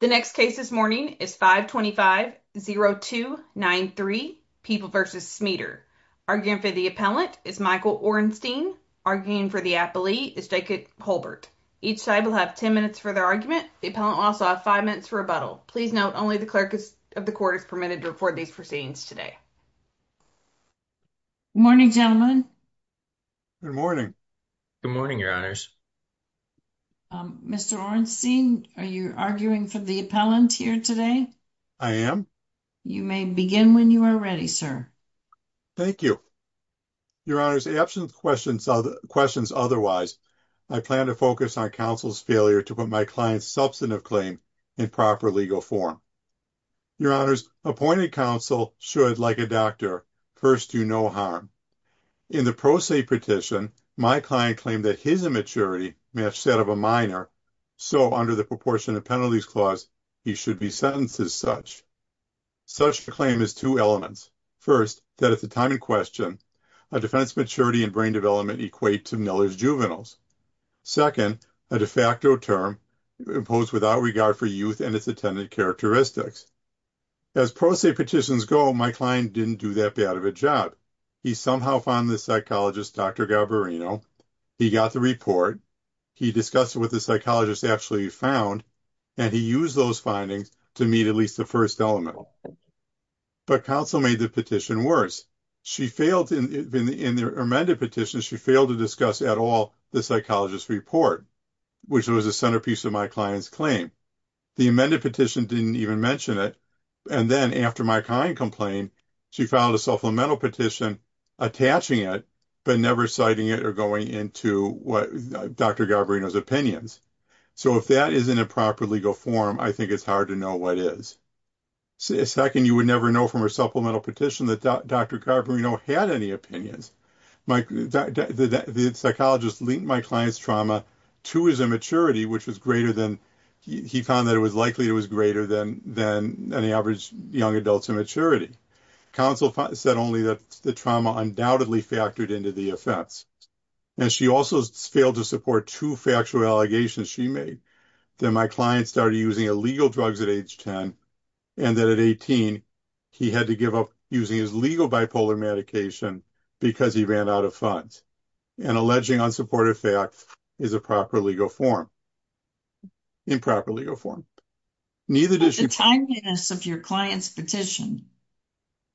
The next case this morning is 525-0293, People v. Smeader. Arguing for the appellant is Michael Orenstein. Arguing for the appellee is Jacob Holbert. Each side will have 10 minutes for their argument. The appellant will also have 5 minutes for rebuttal. Please note, only the clerk of the court is permitted to record these proceedings today. Good morning, gentlemen. Good morning. Good morning, your honors. Mr. Orenstein, are you arguing for the appellant here today? I am. You may begin when you are ready, sir. Thank you. Your honors, absent questions otherwise, I plan to focus on counsel's failure to put my client's substantive claim in proper legal form. Your honors, appointed counsel should, like a doctor, first do no harm. In the pro se petition, my client claimed that his immaturity matched that of a minor, so, under the Proportion of Penalties clause, he should be sentenced as such. Such a claim has two elements. First, that at the time in question, a defendant's maturity and brain development equate to Miller's juveniles. Second, a de facto term imposed without regard for youth and its attendant characteristics. As pro se petitions go, my client didn't do that bad of a job. He somehow found the psychologist Dr. Garbarino, he got the report, he discussed what the psychologist actually found, and he used those findings to meet at least the first element. But counsel made the petition worse. In the amended petition, she failed to discuss at all the psychologist's report, which was the centerpiece of my client's claim. The amended petition didn't even mention it. And then, after my client complained, she filed a supplemental petition attaching it, but never citing it or going into Dr. Garbarino's opinions. So, if that isn't a proper legal form, I think it's hard to know what is. Second, you would never know from her supplemental petition that Dr. Garbarino had any opinions. The psychologist linked my client's trauma to his immaturity, which was greater than, he found that it was likely it was greater than any average young adult's immaturity. Counsel said only that the trauma undoubtedly factored into the offense. And she also failed to support two factual allegations she made, that my client started using illegal drugs at age 10, and that at 18, he had to give up using his bipolar medication because he ran out of funds. And alleging unsupported facts is a proper legal form. Improper legal form. But the timeliness of your client's petition.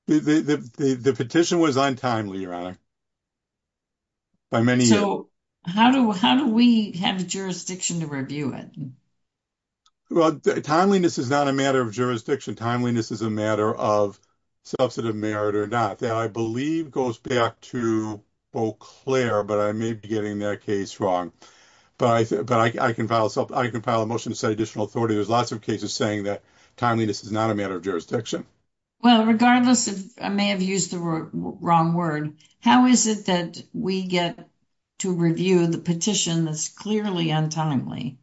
The petition was untimely, Your Honor. So, how do we have jurisdiction to review it? Well, timeliness is not a matter of jurisdiction. Timeliness is a matter of substantive merit or not. That, I believe, goes back to Eau Claire, but I may be getting that case wrong. But I can file a motion to set additional authority. There's lots of cases saying that timeliness is not a matter of jurisdiction. Well, regardless, I may have used the wrong word. How is it that we get to review the petition that's clearly untimely?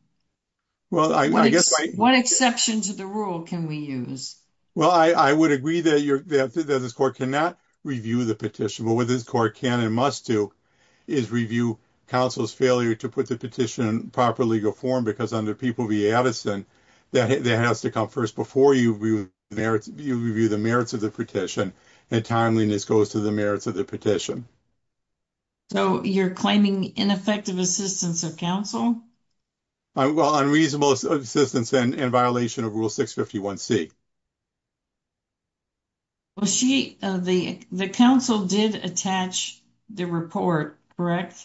Well, I guess... What exception to the rule can we use? Well, I would agree that this court cannot review the petition. But what this court can and must do is review counsel's failure to put the petition in proper legal form. Because under People v. Addison, that has to come first before you review the merits of the petition. And timeliness goes to the merits of the petition. So, you're claiming ineffective assistance of counsel? Well, unreasonable assistance in violation of Rule 651C. Well, the counsel did attach the report, correct?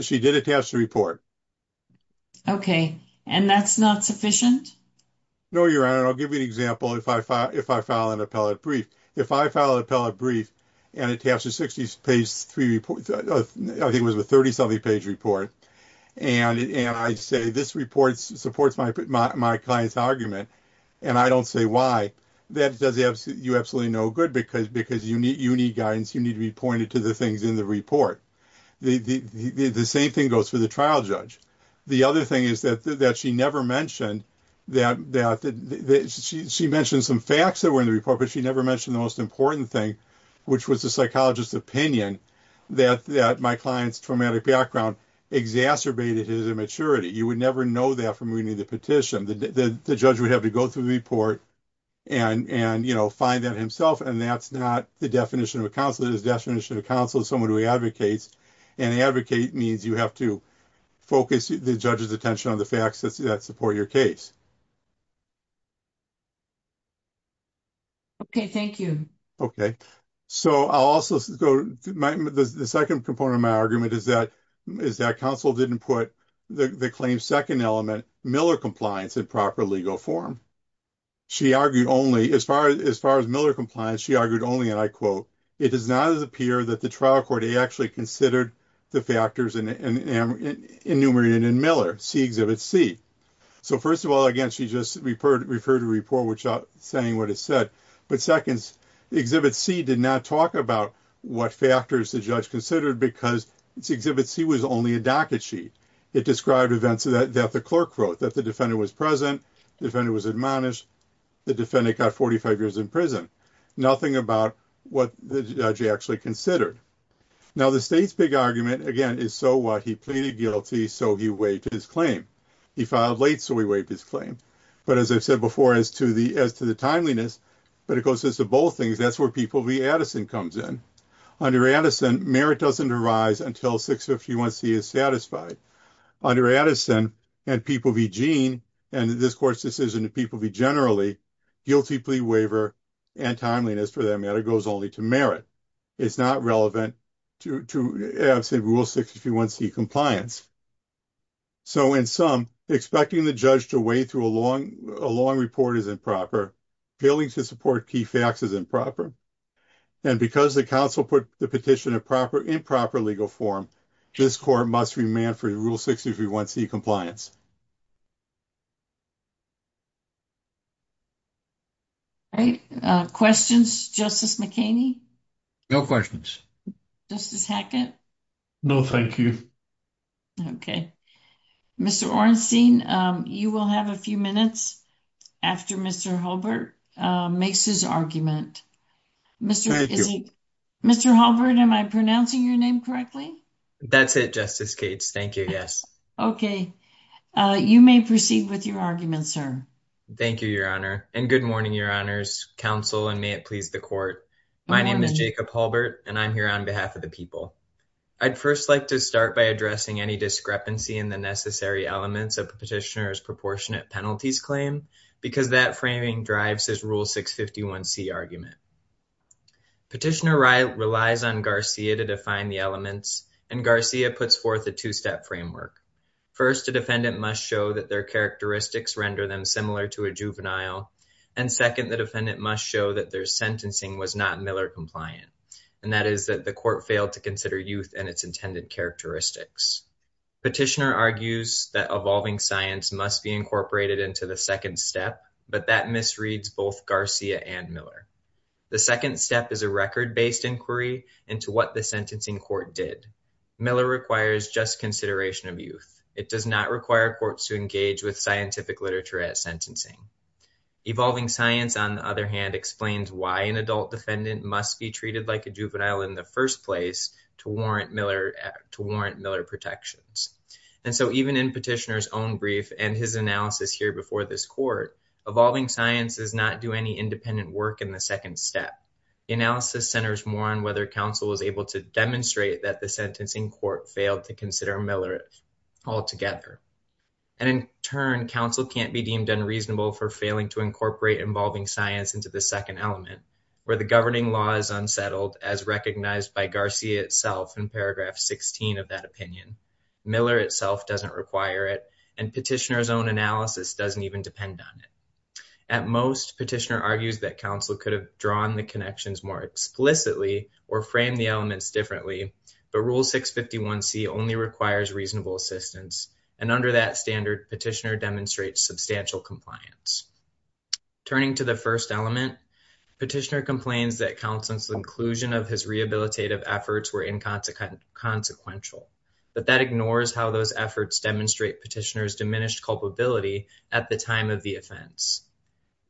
She did attach the report. Okay. And that's not sufficient? No, Your Honor. I'll give you an example if I file an appellate brief. If I file an appellate brief and attach a 60-page, I think it was a 30-something-page report, and I say, this report supports my client's argument, and I don't say why, that does you absolutely no good because you need guidance. You need to be pointed to the things in the report. The same thing goes for the trial judge. The other thing is that she never mentioned that... She mentioned some facts that were in the report, but she never mentioned the important thing, which was the psychologist's opinion that my client's traumatic background exacerbated his immaturity. You would never know that from reading the petition. The judge would have to go through the report and find that himself, and that's not the definition of a counsel. It is a definition of a counsel, someone who advocates, and advocate means you have to focus the judge's attention on the facts that support your case. Okay. Thank you. Okay. So, I'll also go... The second component of my argument is that counsel didn't put the claim's second element, Miller compliance, in proper legal form. She argued only... As far as Miller compliance, she argued only, and I quote, it does not appear that the trial court actually considered the factors enumerated in Miller, see Exhibit C. So, first of all, again, she just referred to the report without saying what it said, but second, Exhibit C did not talk about what factors the judge considered because Exhibit C was only a docket sheet. It described events that the clerk wrote, that the defendant was present, the defendant was admonished, the defendant got 45 years in prison, nothing about what the judge actually considered. Now, the state's big argument, again, is so what? He filed late, so he waived his claim. But as I've said before, as to the timeliness, but it goes to both things, that's where people v. Addison comes in. Under Addison, merit doesn't arise until 651C is satisfied. Under Addison, and people v. Jean, and this court's decision to people v. Generally, guilty plea waiver and timeliness, for that matter, goes only to merit. It's not relevant to rule 651C compliance. So, in sum, expecting the judge to wade through a long report is improper. Failing to support key facts is improper. And because the counsel put the petition in proper legal form, this court must remand for rule 651C compliance. All right. Questions, Justice McHaney? No questions. Justice Hackett? No, thank you. Okay. Mr. Orenstein, you will have a few minutes after Mr. Halbert makes his argument. Mr. Halbert, am I pronouncing your name correctly? That's it, Justice Cates. Thank you. Yes. Okay. You may proceed with your argument, sir. Thank you, Your Honor. And good morning, Your Honor's counsel, and may it please the court. My name is Jacob Halbert, and I'm here on behalf of the people. I'd first like to start by addressing any discrepancy in the necessary elements of the petitioner's proportionate penalties claim, because that framing drives his rule 651C argument. Petitioner relies on Garcia to define the elements, and Garcia puts forth a two-step framework. First, a defendant must show that their characteristics render them similar to a juvenile. And second, the defendant must show that their sentencing was not Miller compliant, and that is that the court failed to consider youth and its intended characteristics. Petitioner argues that evolving science must be incorporated into the second step, but that misreads both Garcia and Miller. The second step is a record-based inquiry into what the sentencing court did. Miller requires just consideration of youth. It does not require courts to engage with scientific literature at sentencing. Evolving science, on the other hand, explains why an adult defendant must be treated like a juvenile in the first place to warrant Miller protections. And so even in petitioner's own brief and his analysis here before this court, evolving science does not do any independent work in the second step. The analysis centers more on whether counsel was able to demonstrate that the sentencing court failed to consider Miller altogether. And in turn, counsel can't be deemed unreasonable for failing to incorporate evolving science into the second element, where the governing law is unsettled, as recognized by Garcia itself in paragraph 16 of that opinion. Miller itself doesn't require it, and petitioner's own analysis doesn't even depend on it. At most, petitioner argues that counsel could have drawn the connections more explicitly or framed the elements differently, but Rule 651c only requires reasonable assistance, and under that standard, petitioner demonstrates substantial compliance. Turning to the first element, petitioner complains that counsel's inclusion of his rehabilitative efforts were inconsequential, but that ignores how those efforts demonstrate petitioner's diminished culpability at the time of the offense.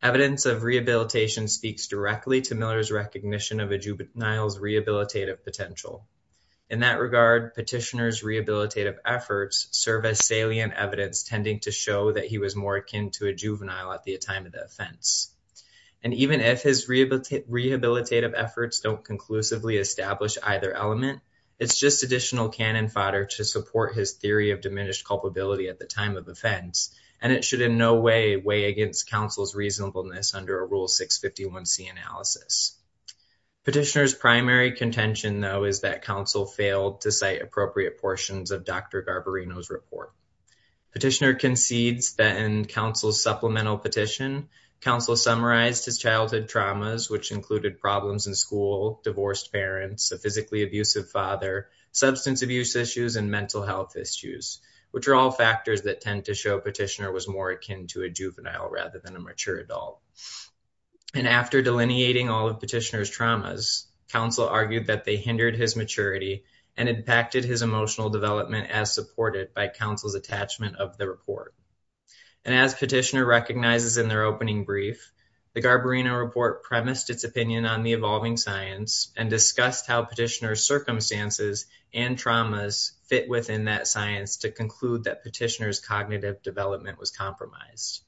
Evidence of rehabilitation speaks directly to Miller's recognition of a juvenile's rehabilitative potential. In that regard, petitioner's rehabilitative efforts serve as salient evidence tending to show that he was more akin to a juvenile at the time of the offense. And even if his rehabilitative efforts don't conclusively establish either element, it's just additional cannon fodder to support his theory of diminished culpability at the time of offense, and it should in no way weigh against counsel's reasonableness under a Rule 651c analysis. Petitioner's primary contention, though, is that counsel failed to cite appropriate portions of Dr. Garbarino's report. Petitioner concedes that in counsel's supplemental petition, counsel summarized his childhood traumas, which included problems in school, divorced parents, a physically abusive father, substance abuse issues, and mental health issues, which are all factors that tend to show petitioner was more akin to a juvenile rather than a mature adult. And after delineating all of petitioner's traumas, counsel argued that they hindered his maturity and impacted his emotional development as supported by counsel's attachment of the report. And as petitioner recognizes in their opening brief, the Garbarino report premised its opinion on the evolving science and discussed how petitioner's circumstances and traumas fit within that science to conclude that petitioner's cognitive development was compromised.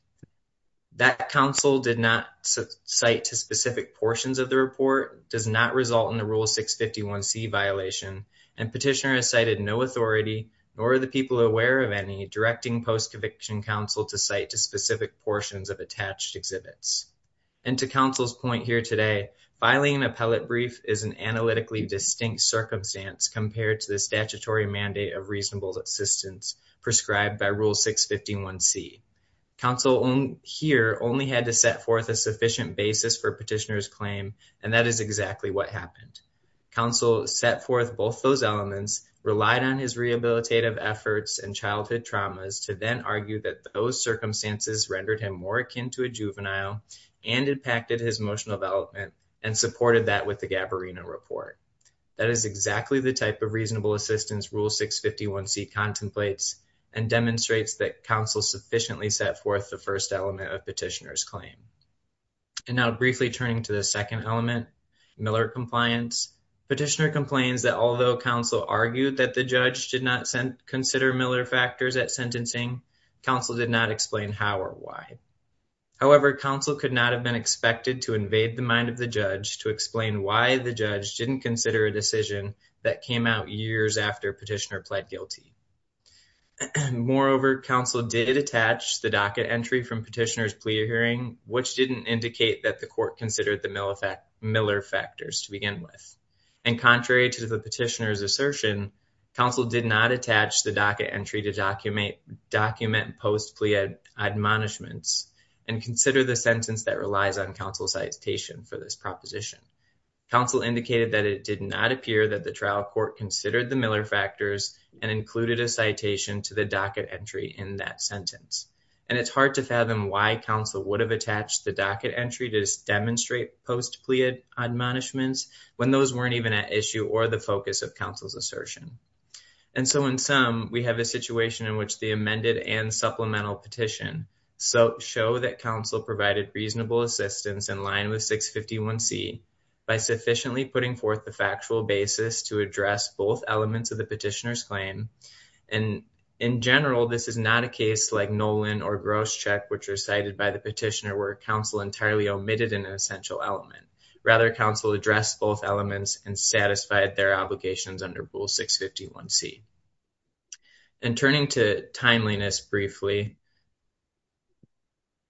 That counsel did not cite to specific portions of the report does not result in the Rule 651c violation, and petitioner has cited no authority, nor are the people aware of any, directing post-conviction counsel to cite to specific portions of attached circumstance compared to the statutory mandate of reasonable assistance prescribed by Rule 651c. Counsel here only had to set forth a sufficient basis for petitioner's claim, and that is exactly what happened. Counsel set forth both those elements, relied on his rehabilitative efforts and childhood traumas to then argue that those circumstances rendered him more akin to a juvenile and impacted his emotional development and supported that with the Garbarino report. That is exactly the type of reasonable assistance Rule 651c contemplates and demonstrates that counsel sufficiently set forth the first element of petitioner's claim. And now briefly turning to the second element, Miller compliance. Petitioner complains that although counsel argued that the judge did not consider Miller factors at sentencing, counsel did not explain how or why. However, counsel could not have been expected to invade the mind of the judge to explain why the judge didn't consider a decision that came out years after petitioner pled guilty. Moreover, counsel did attach the docket entry from petitioner's plea hearing, which didn't indicate that the court considered the Miller factors to begin with. And contrary to the petitioner's assertion, counsel did not attach the docket entry to document post-plea admonishments and consider the sentence that relies on counsel's citation for this proposition. Counsel indicated that it did not appear that the trial court considered the Miller factors and included a citation to the docket entry in that sentence. And it's hard to fathom why counsel would have attached the docket entry to demonstrate post-plea admonishments when those weren't even an issue or the focus of counsel's assertion. And so in sum, we have a situation in which the amended and supplemental petition show that counsel provided reasonable assistance in line with 651C by sufficiently putting forth the factual basis to address both elements of the petitioner's claim. And in general, this is not a case like Nolan or Grosscheck, which are cited by the petitioner, where counsel entirely omitted an essential element. Rather, counsel addressed both elements and satisfied their obligations under Rule 651C. And turning to timeliness briefly,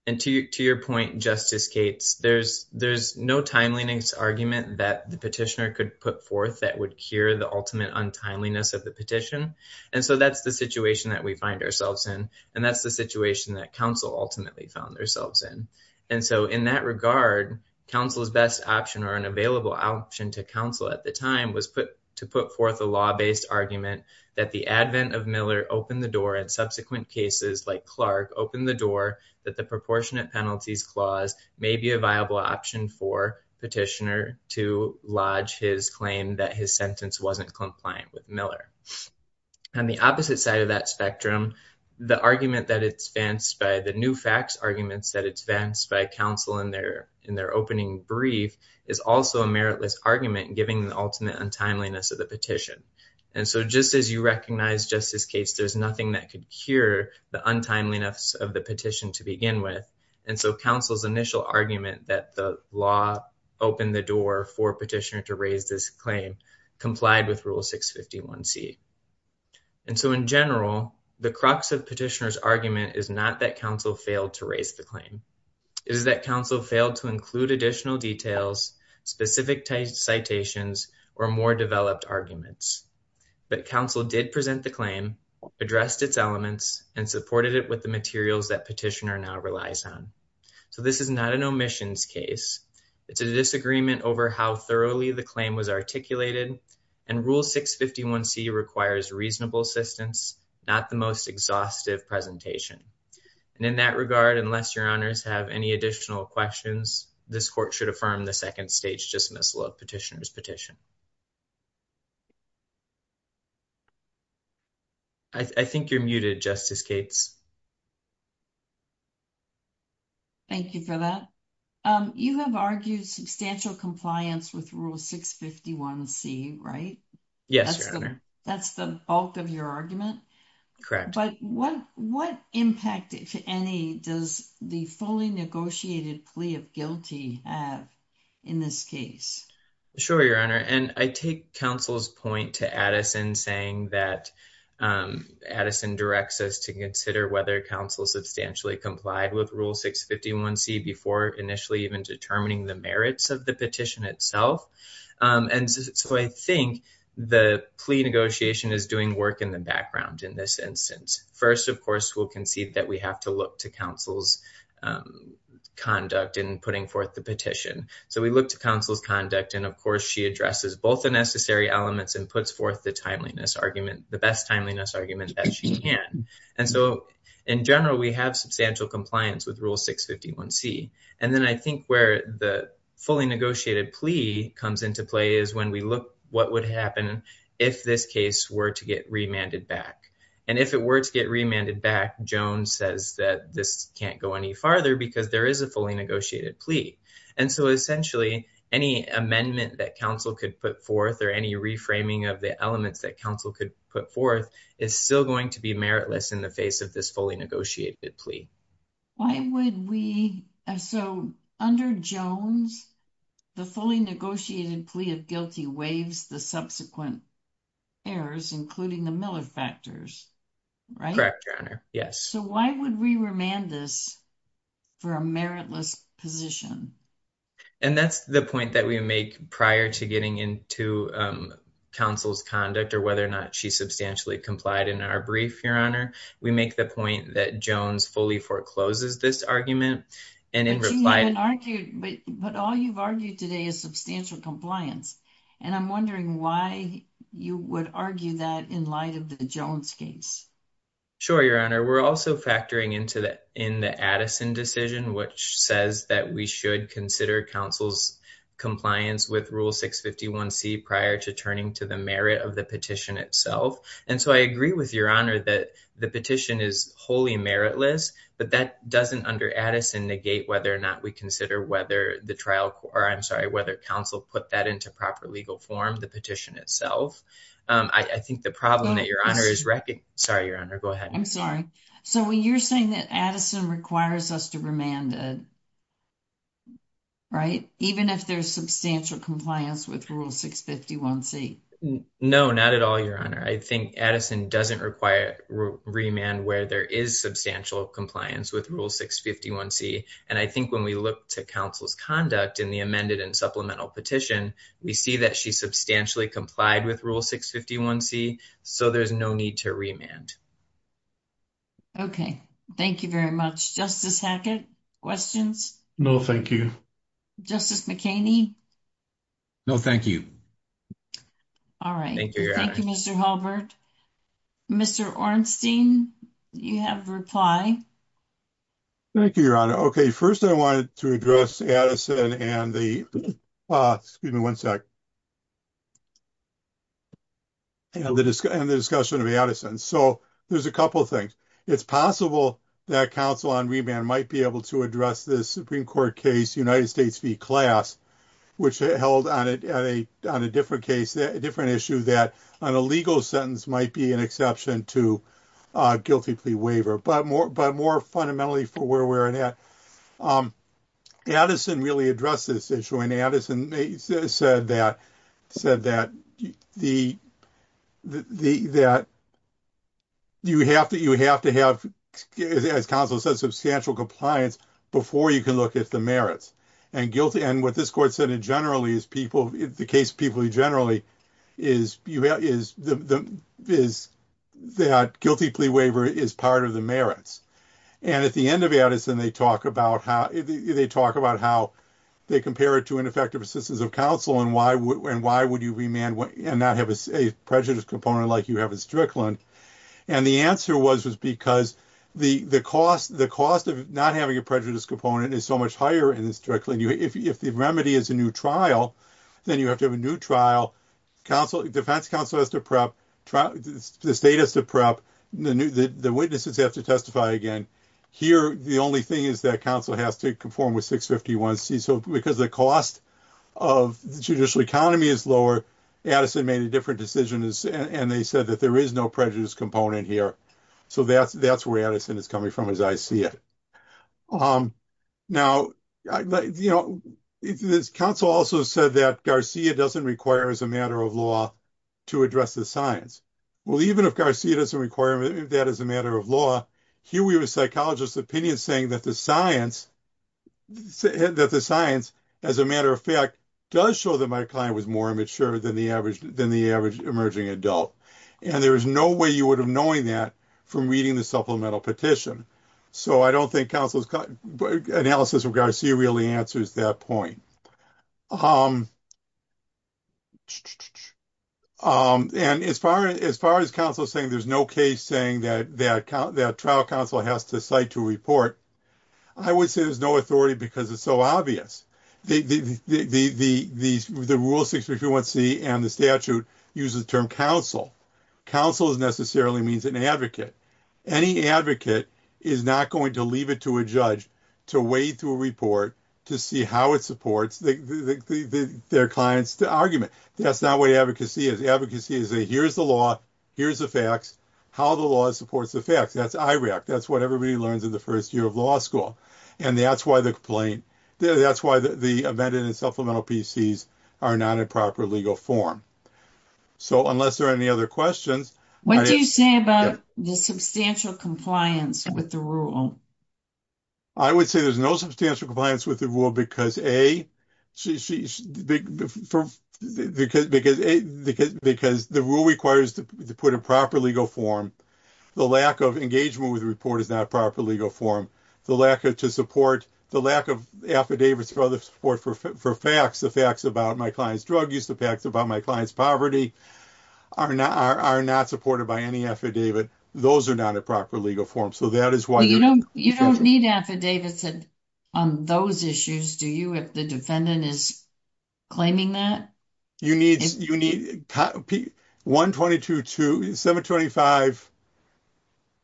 and to your point, Justice Cates, there's no timeliness argument that the petitioner could put forth that would cure the ultimate untimeliness of the petition. And so that's the situation that we find ourselves in. And that's the situation that counsel ultimately found themselves in. And so in that regard, counsel's best option or an available option to counsel at the time was to put forth a law-based argument that the advent of Miller opened the door and subsequent cases like Clark opened the door that the proportionate penalties clause may be a viable option for petitioner to lodge his claim that his sentence wasn't compliant with Miller. On the opposite side of that spectrum, the argument that it's fenced by the new facts arguments that it's fenced by counsel in their opening brief is also a meritless argument giving the ultimate untimeliness of the petition. And so just as you recognize, Justice Cates, there's nothing that could cure the untimeliness of the petition to begin with. And so counsel's initial argument that the law opened the door for petitioner to raise this claim complied with Rule 651C. And so in general, the crux of petitioner's argument is not that counsel failed to raise the claim. It is that counsel failed to include additional details, specific citations, or more developed arguments. But counsel did present the claim, addressed its elements, and supported it with the materials that petitioner now relies on. So this is not an omissions case. It's a disagreement over how thoroughly the claim was articulated. And Rule 651C requires reasonable assistance, not the most exhaustive presentation. And in that regard, unless your honors have any additional questions, this court should affirm the second stage dismissal of petitioner's petition. I think you're muted, Justice Cates. Thank you for that. You have argued substantial compliance with Rule 651C, right? Yes, your honor. That's the bulk of your argument? But what impact, if any, does the fully negotiated plea of guilty have in this case? Sure, your honor. And I take counsel's point to Addison saying that Addison directs us to whether counsel substantially complied with Rule 651C before initially even determining the merits of the petition itself. And so I think the plea negotiation is doing work in the background in this instance. First, of course, we'll concede that we have to look to counsel's conduct in putting forth the petition. So we look to counsel's conduct. And of course, she addresses both the necessary elements and puts forth the best timeliness argument that she can. And so in general, we have substantial compliance with Rule 651C. And then I think where the fully negotiated plea comes into play is when we look what would happen if this case were to get remanded back. And if it were to get remanded back, Jones says that this can't go any farther because there is a fully negotiated plea. And so essentially, any amendment that counsel could put forth or reframing of the elements that counsel could put forth is still going to be meritless in the face of this fully negotiated plea. Why would we? So under Jones, the fully negotiated plea of guilty waives the subsequent errors, including the Miller factors, right? Yes. So why would we remand this for a meritless position? And that's the point that we make prior to getting into counsel's conduct or whether or not she substantially complied in our brief, Your Honor. We make the point that Jones fully forecloses this argument and in reply and argued. But all you've argued today is substantial compliance. And I'm wondering why you would argue that in light of the Jones case. Sure, Your Honor. We're also factoring into that in the Addison decision, which says that we should consider counsel's compliance with Rule 651 C prior to turning to the merit of the petition itself. And so I agree with Your Honor that the petition is wholly meritless, but that doesn't under Addison negate whether or not we consider whether the trial or I'm sorry, whether counsel put that into proper legal form, the petition itself. I think the problem that Your Honor is wrecking. Sorry, Your Honor. Go ahead. I'm sorry. So when you're saying that Addison requires us to remand it. Right, even if there's substantial compliance with Rule 651 C. No, not at all. Your Honor, I think Addison doesn't require remand where there is substantial compliance with Rule 651 C. And I think when we look to counsel's conduct in the amended and supplemental petition, we see that she substantially complied with Rule 651 C. So there's no need to remand. Okay, thank you very much. Justice Hackett, questions? No, thank you. Justice McKinney? No, thank you. All right. Thank you, Mr. Halbert. Mr. Ornstein, you have a reply. Thank you, Your Honor. Okay, first I wanted to address Addison and the, excuse me one sec, and the discussion of Addison. So there's a couple of things. It's possible that counsel on remand might be able to address this Supreme Court case, United States v. Class, which held on a different case, a different issue that on a legal sentence might be an exception to a guilty plea waiver. But more fundamentally for where we're at, Addison really addressed this issue. And Addison said that you have to have, as counsel said, substantial compliance before you can look at the merits. And what this Court said, generally, is people, the case of people generally, is that guilty plea waiver is part of the merits. And at the end of Addison, they talk about how they compare it to ineffective assistance of counsel and why would you remand and not have a prejudice component like you have in Strickland. And the answer was because the cost of not having a prejudice component is so much in Strickland. If the remedy is a new trial, then you have to have a new trial. The defense counsel has to prep, the state has to prep, the witnesses have to testify again. Here, the only thing is that counsel has to conform with 651C. So because the cost of the judicial economy is lower, Addison made a different decision and they said that there is no prejudice component here. So that's where Addison is coming from as I see it. Now, you know, this counsel also said that Garcia doesn't require, as a matter of law, to address the science. Well, even if Garcia doesn't require that as a matter of law, here we have a psychologist's opinion saying that the science, as a matter of fact, does show that my client was more immature than the knowing that from reading the supplemental petition. So I don't think analysis of Garcia really answers that point. And as far as counsel saying there's no case saying that trial counsel has to cite to report, I would say there's no authority because it's so obvious. The rule 651C and the statute uses the term counsel. Counsel necessarily means an advocate. Any advocate is not going to leave it to a judge to wade through a report to see how it supports their client's argument. That's not what advocacy is. Advocacy is a here's the law, here's the facts, how the law supports the facts. That's IRAC. That's what everybody learns in the first year of law school. And that's why the complaint, that's why the amended and supplemental are not a proper legal form. So unless there are any other questions. What do you say about the substantial compliance with the rule? I would say there's no substantial compliance with the rule because A, because the rule requires to put a proper legal form. The lack of engagement with the report is not a proper legal form. The lack of affidavits for facts, the facts about my client's drug use, the facts about my client's poverty are not supported by any affidavit. Those are not a proper legal form. You don't need affidavits on those issues, do you, if the defendant is claiming that? You need 122.2, 725,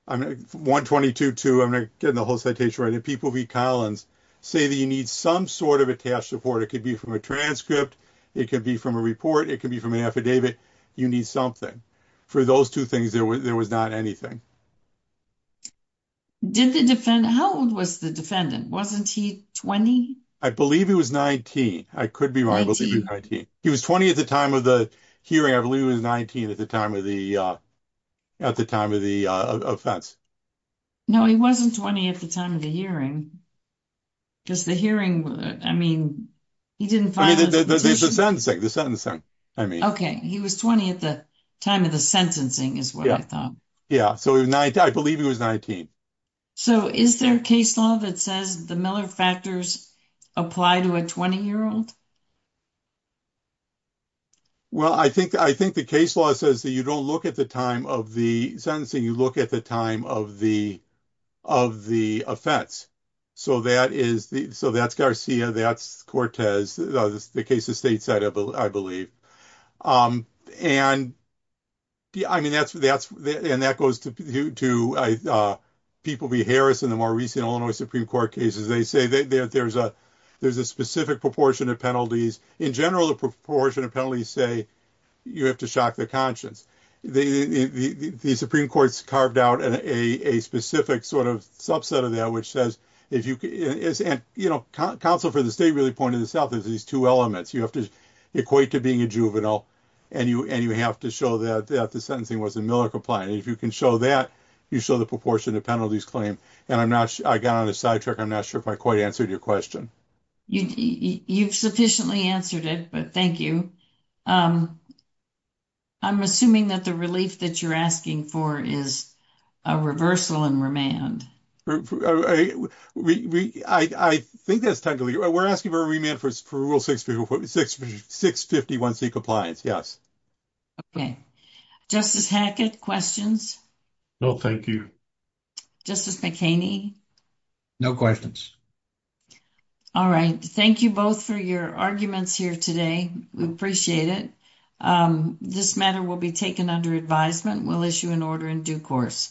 122.2, I'm not getting the whole citation right. People v. Collins say that you need some sort of attached support. It could be from a transcript. It could be from a report. It could be from an affidavit. You need something. For those two things, there was not anything. How old was the defendant? Wasn't he 20? I believe he was 19. I could be wrong. He was 20 at the time of the hearing. I believe he was 19 at the time of the offense. No, he wasn't 20 at the time of the hearing. Because the hearing, I mean, he didn't file a petition. The sentencing. Okay, he was 20 at the time of the sentencing is what I thought. Yeah, so I believe he was 19. So, is there a case law that says the Miller factors apply to a 20-year-old? Well, I think the case law says that you don't look at the time of the sentencing, you look at the time of the offense. So, that's Garcia, that's Cortez, the case of stateside, I believe. And that goes to people like Harris in the more recent Illinois Supreme Court cases. They say that there's a specific proportion of penalties. In general, the proportion of penalties say you have to shock the conscience. The Supreme Court's carved out a subset of that. Counsel for the state really pointed this out. There's these two elements. You have to equate to being a juvenile, and you have to show that the sentencing wasn't Miller compliant. If you can show that, you show the proportion of penalties claimed. And I got on a sidetrack. I'm not sure if I quite answered your question. You've sufficiently answered it, but thank you. I'm assuming that the relief that you're asking for is a reversal and remand. We're asking for a remand for Rule 651C compliance, yes. Okay. Justice Hackett, questions? No, thank you. Justice McHaney? No questions. All right. Thank you both for your arguments here today. We appreciate it. This matter will be taken under advisement. We'll issue an order in due course.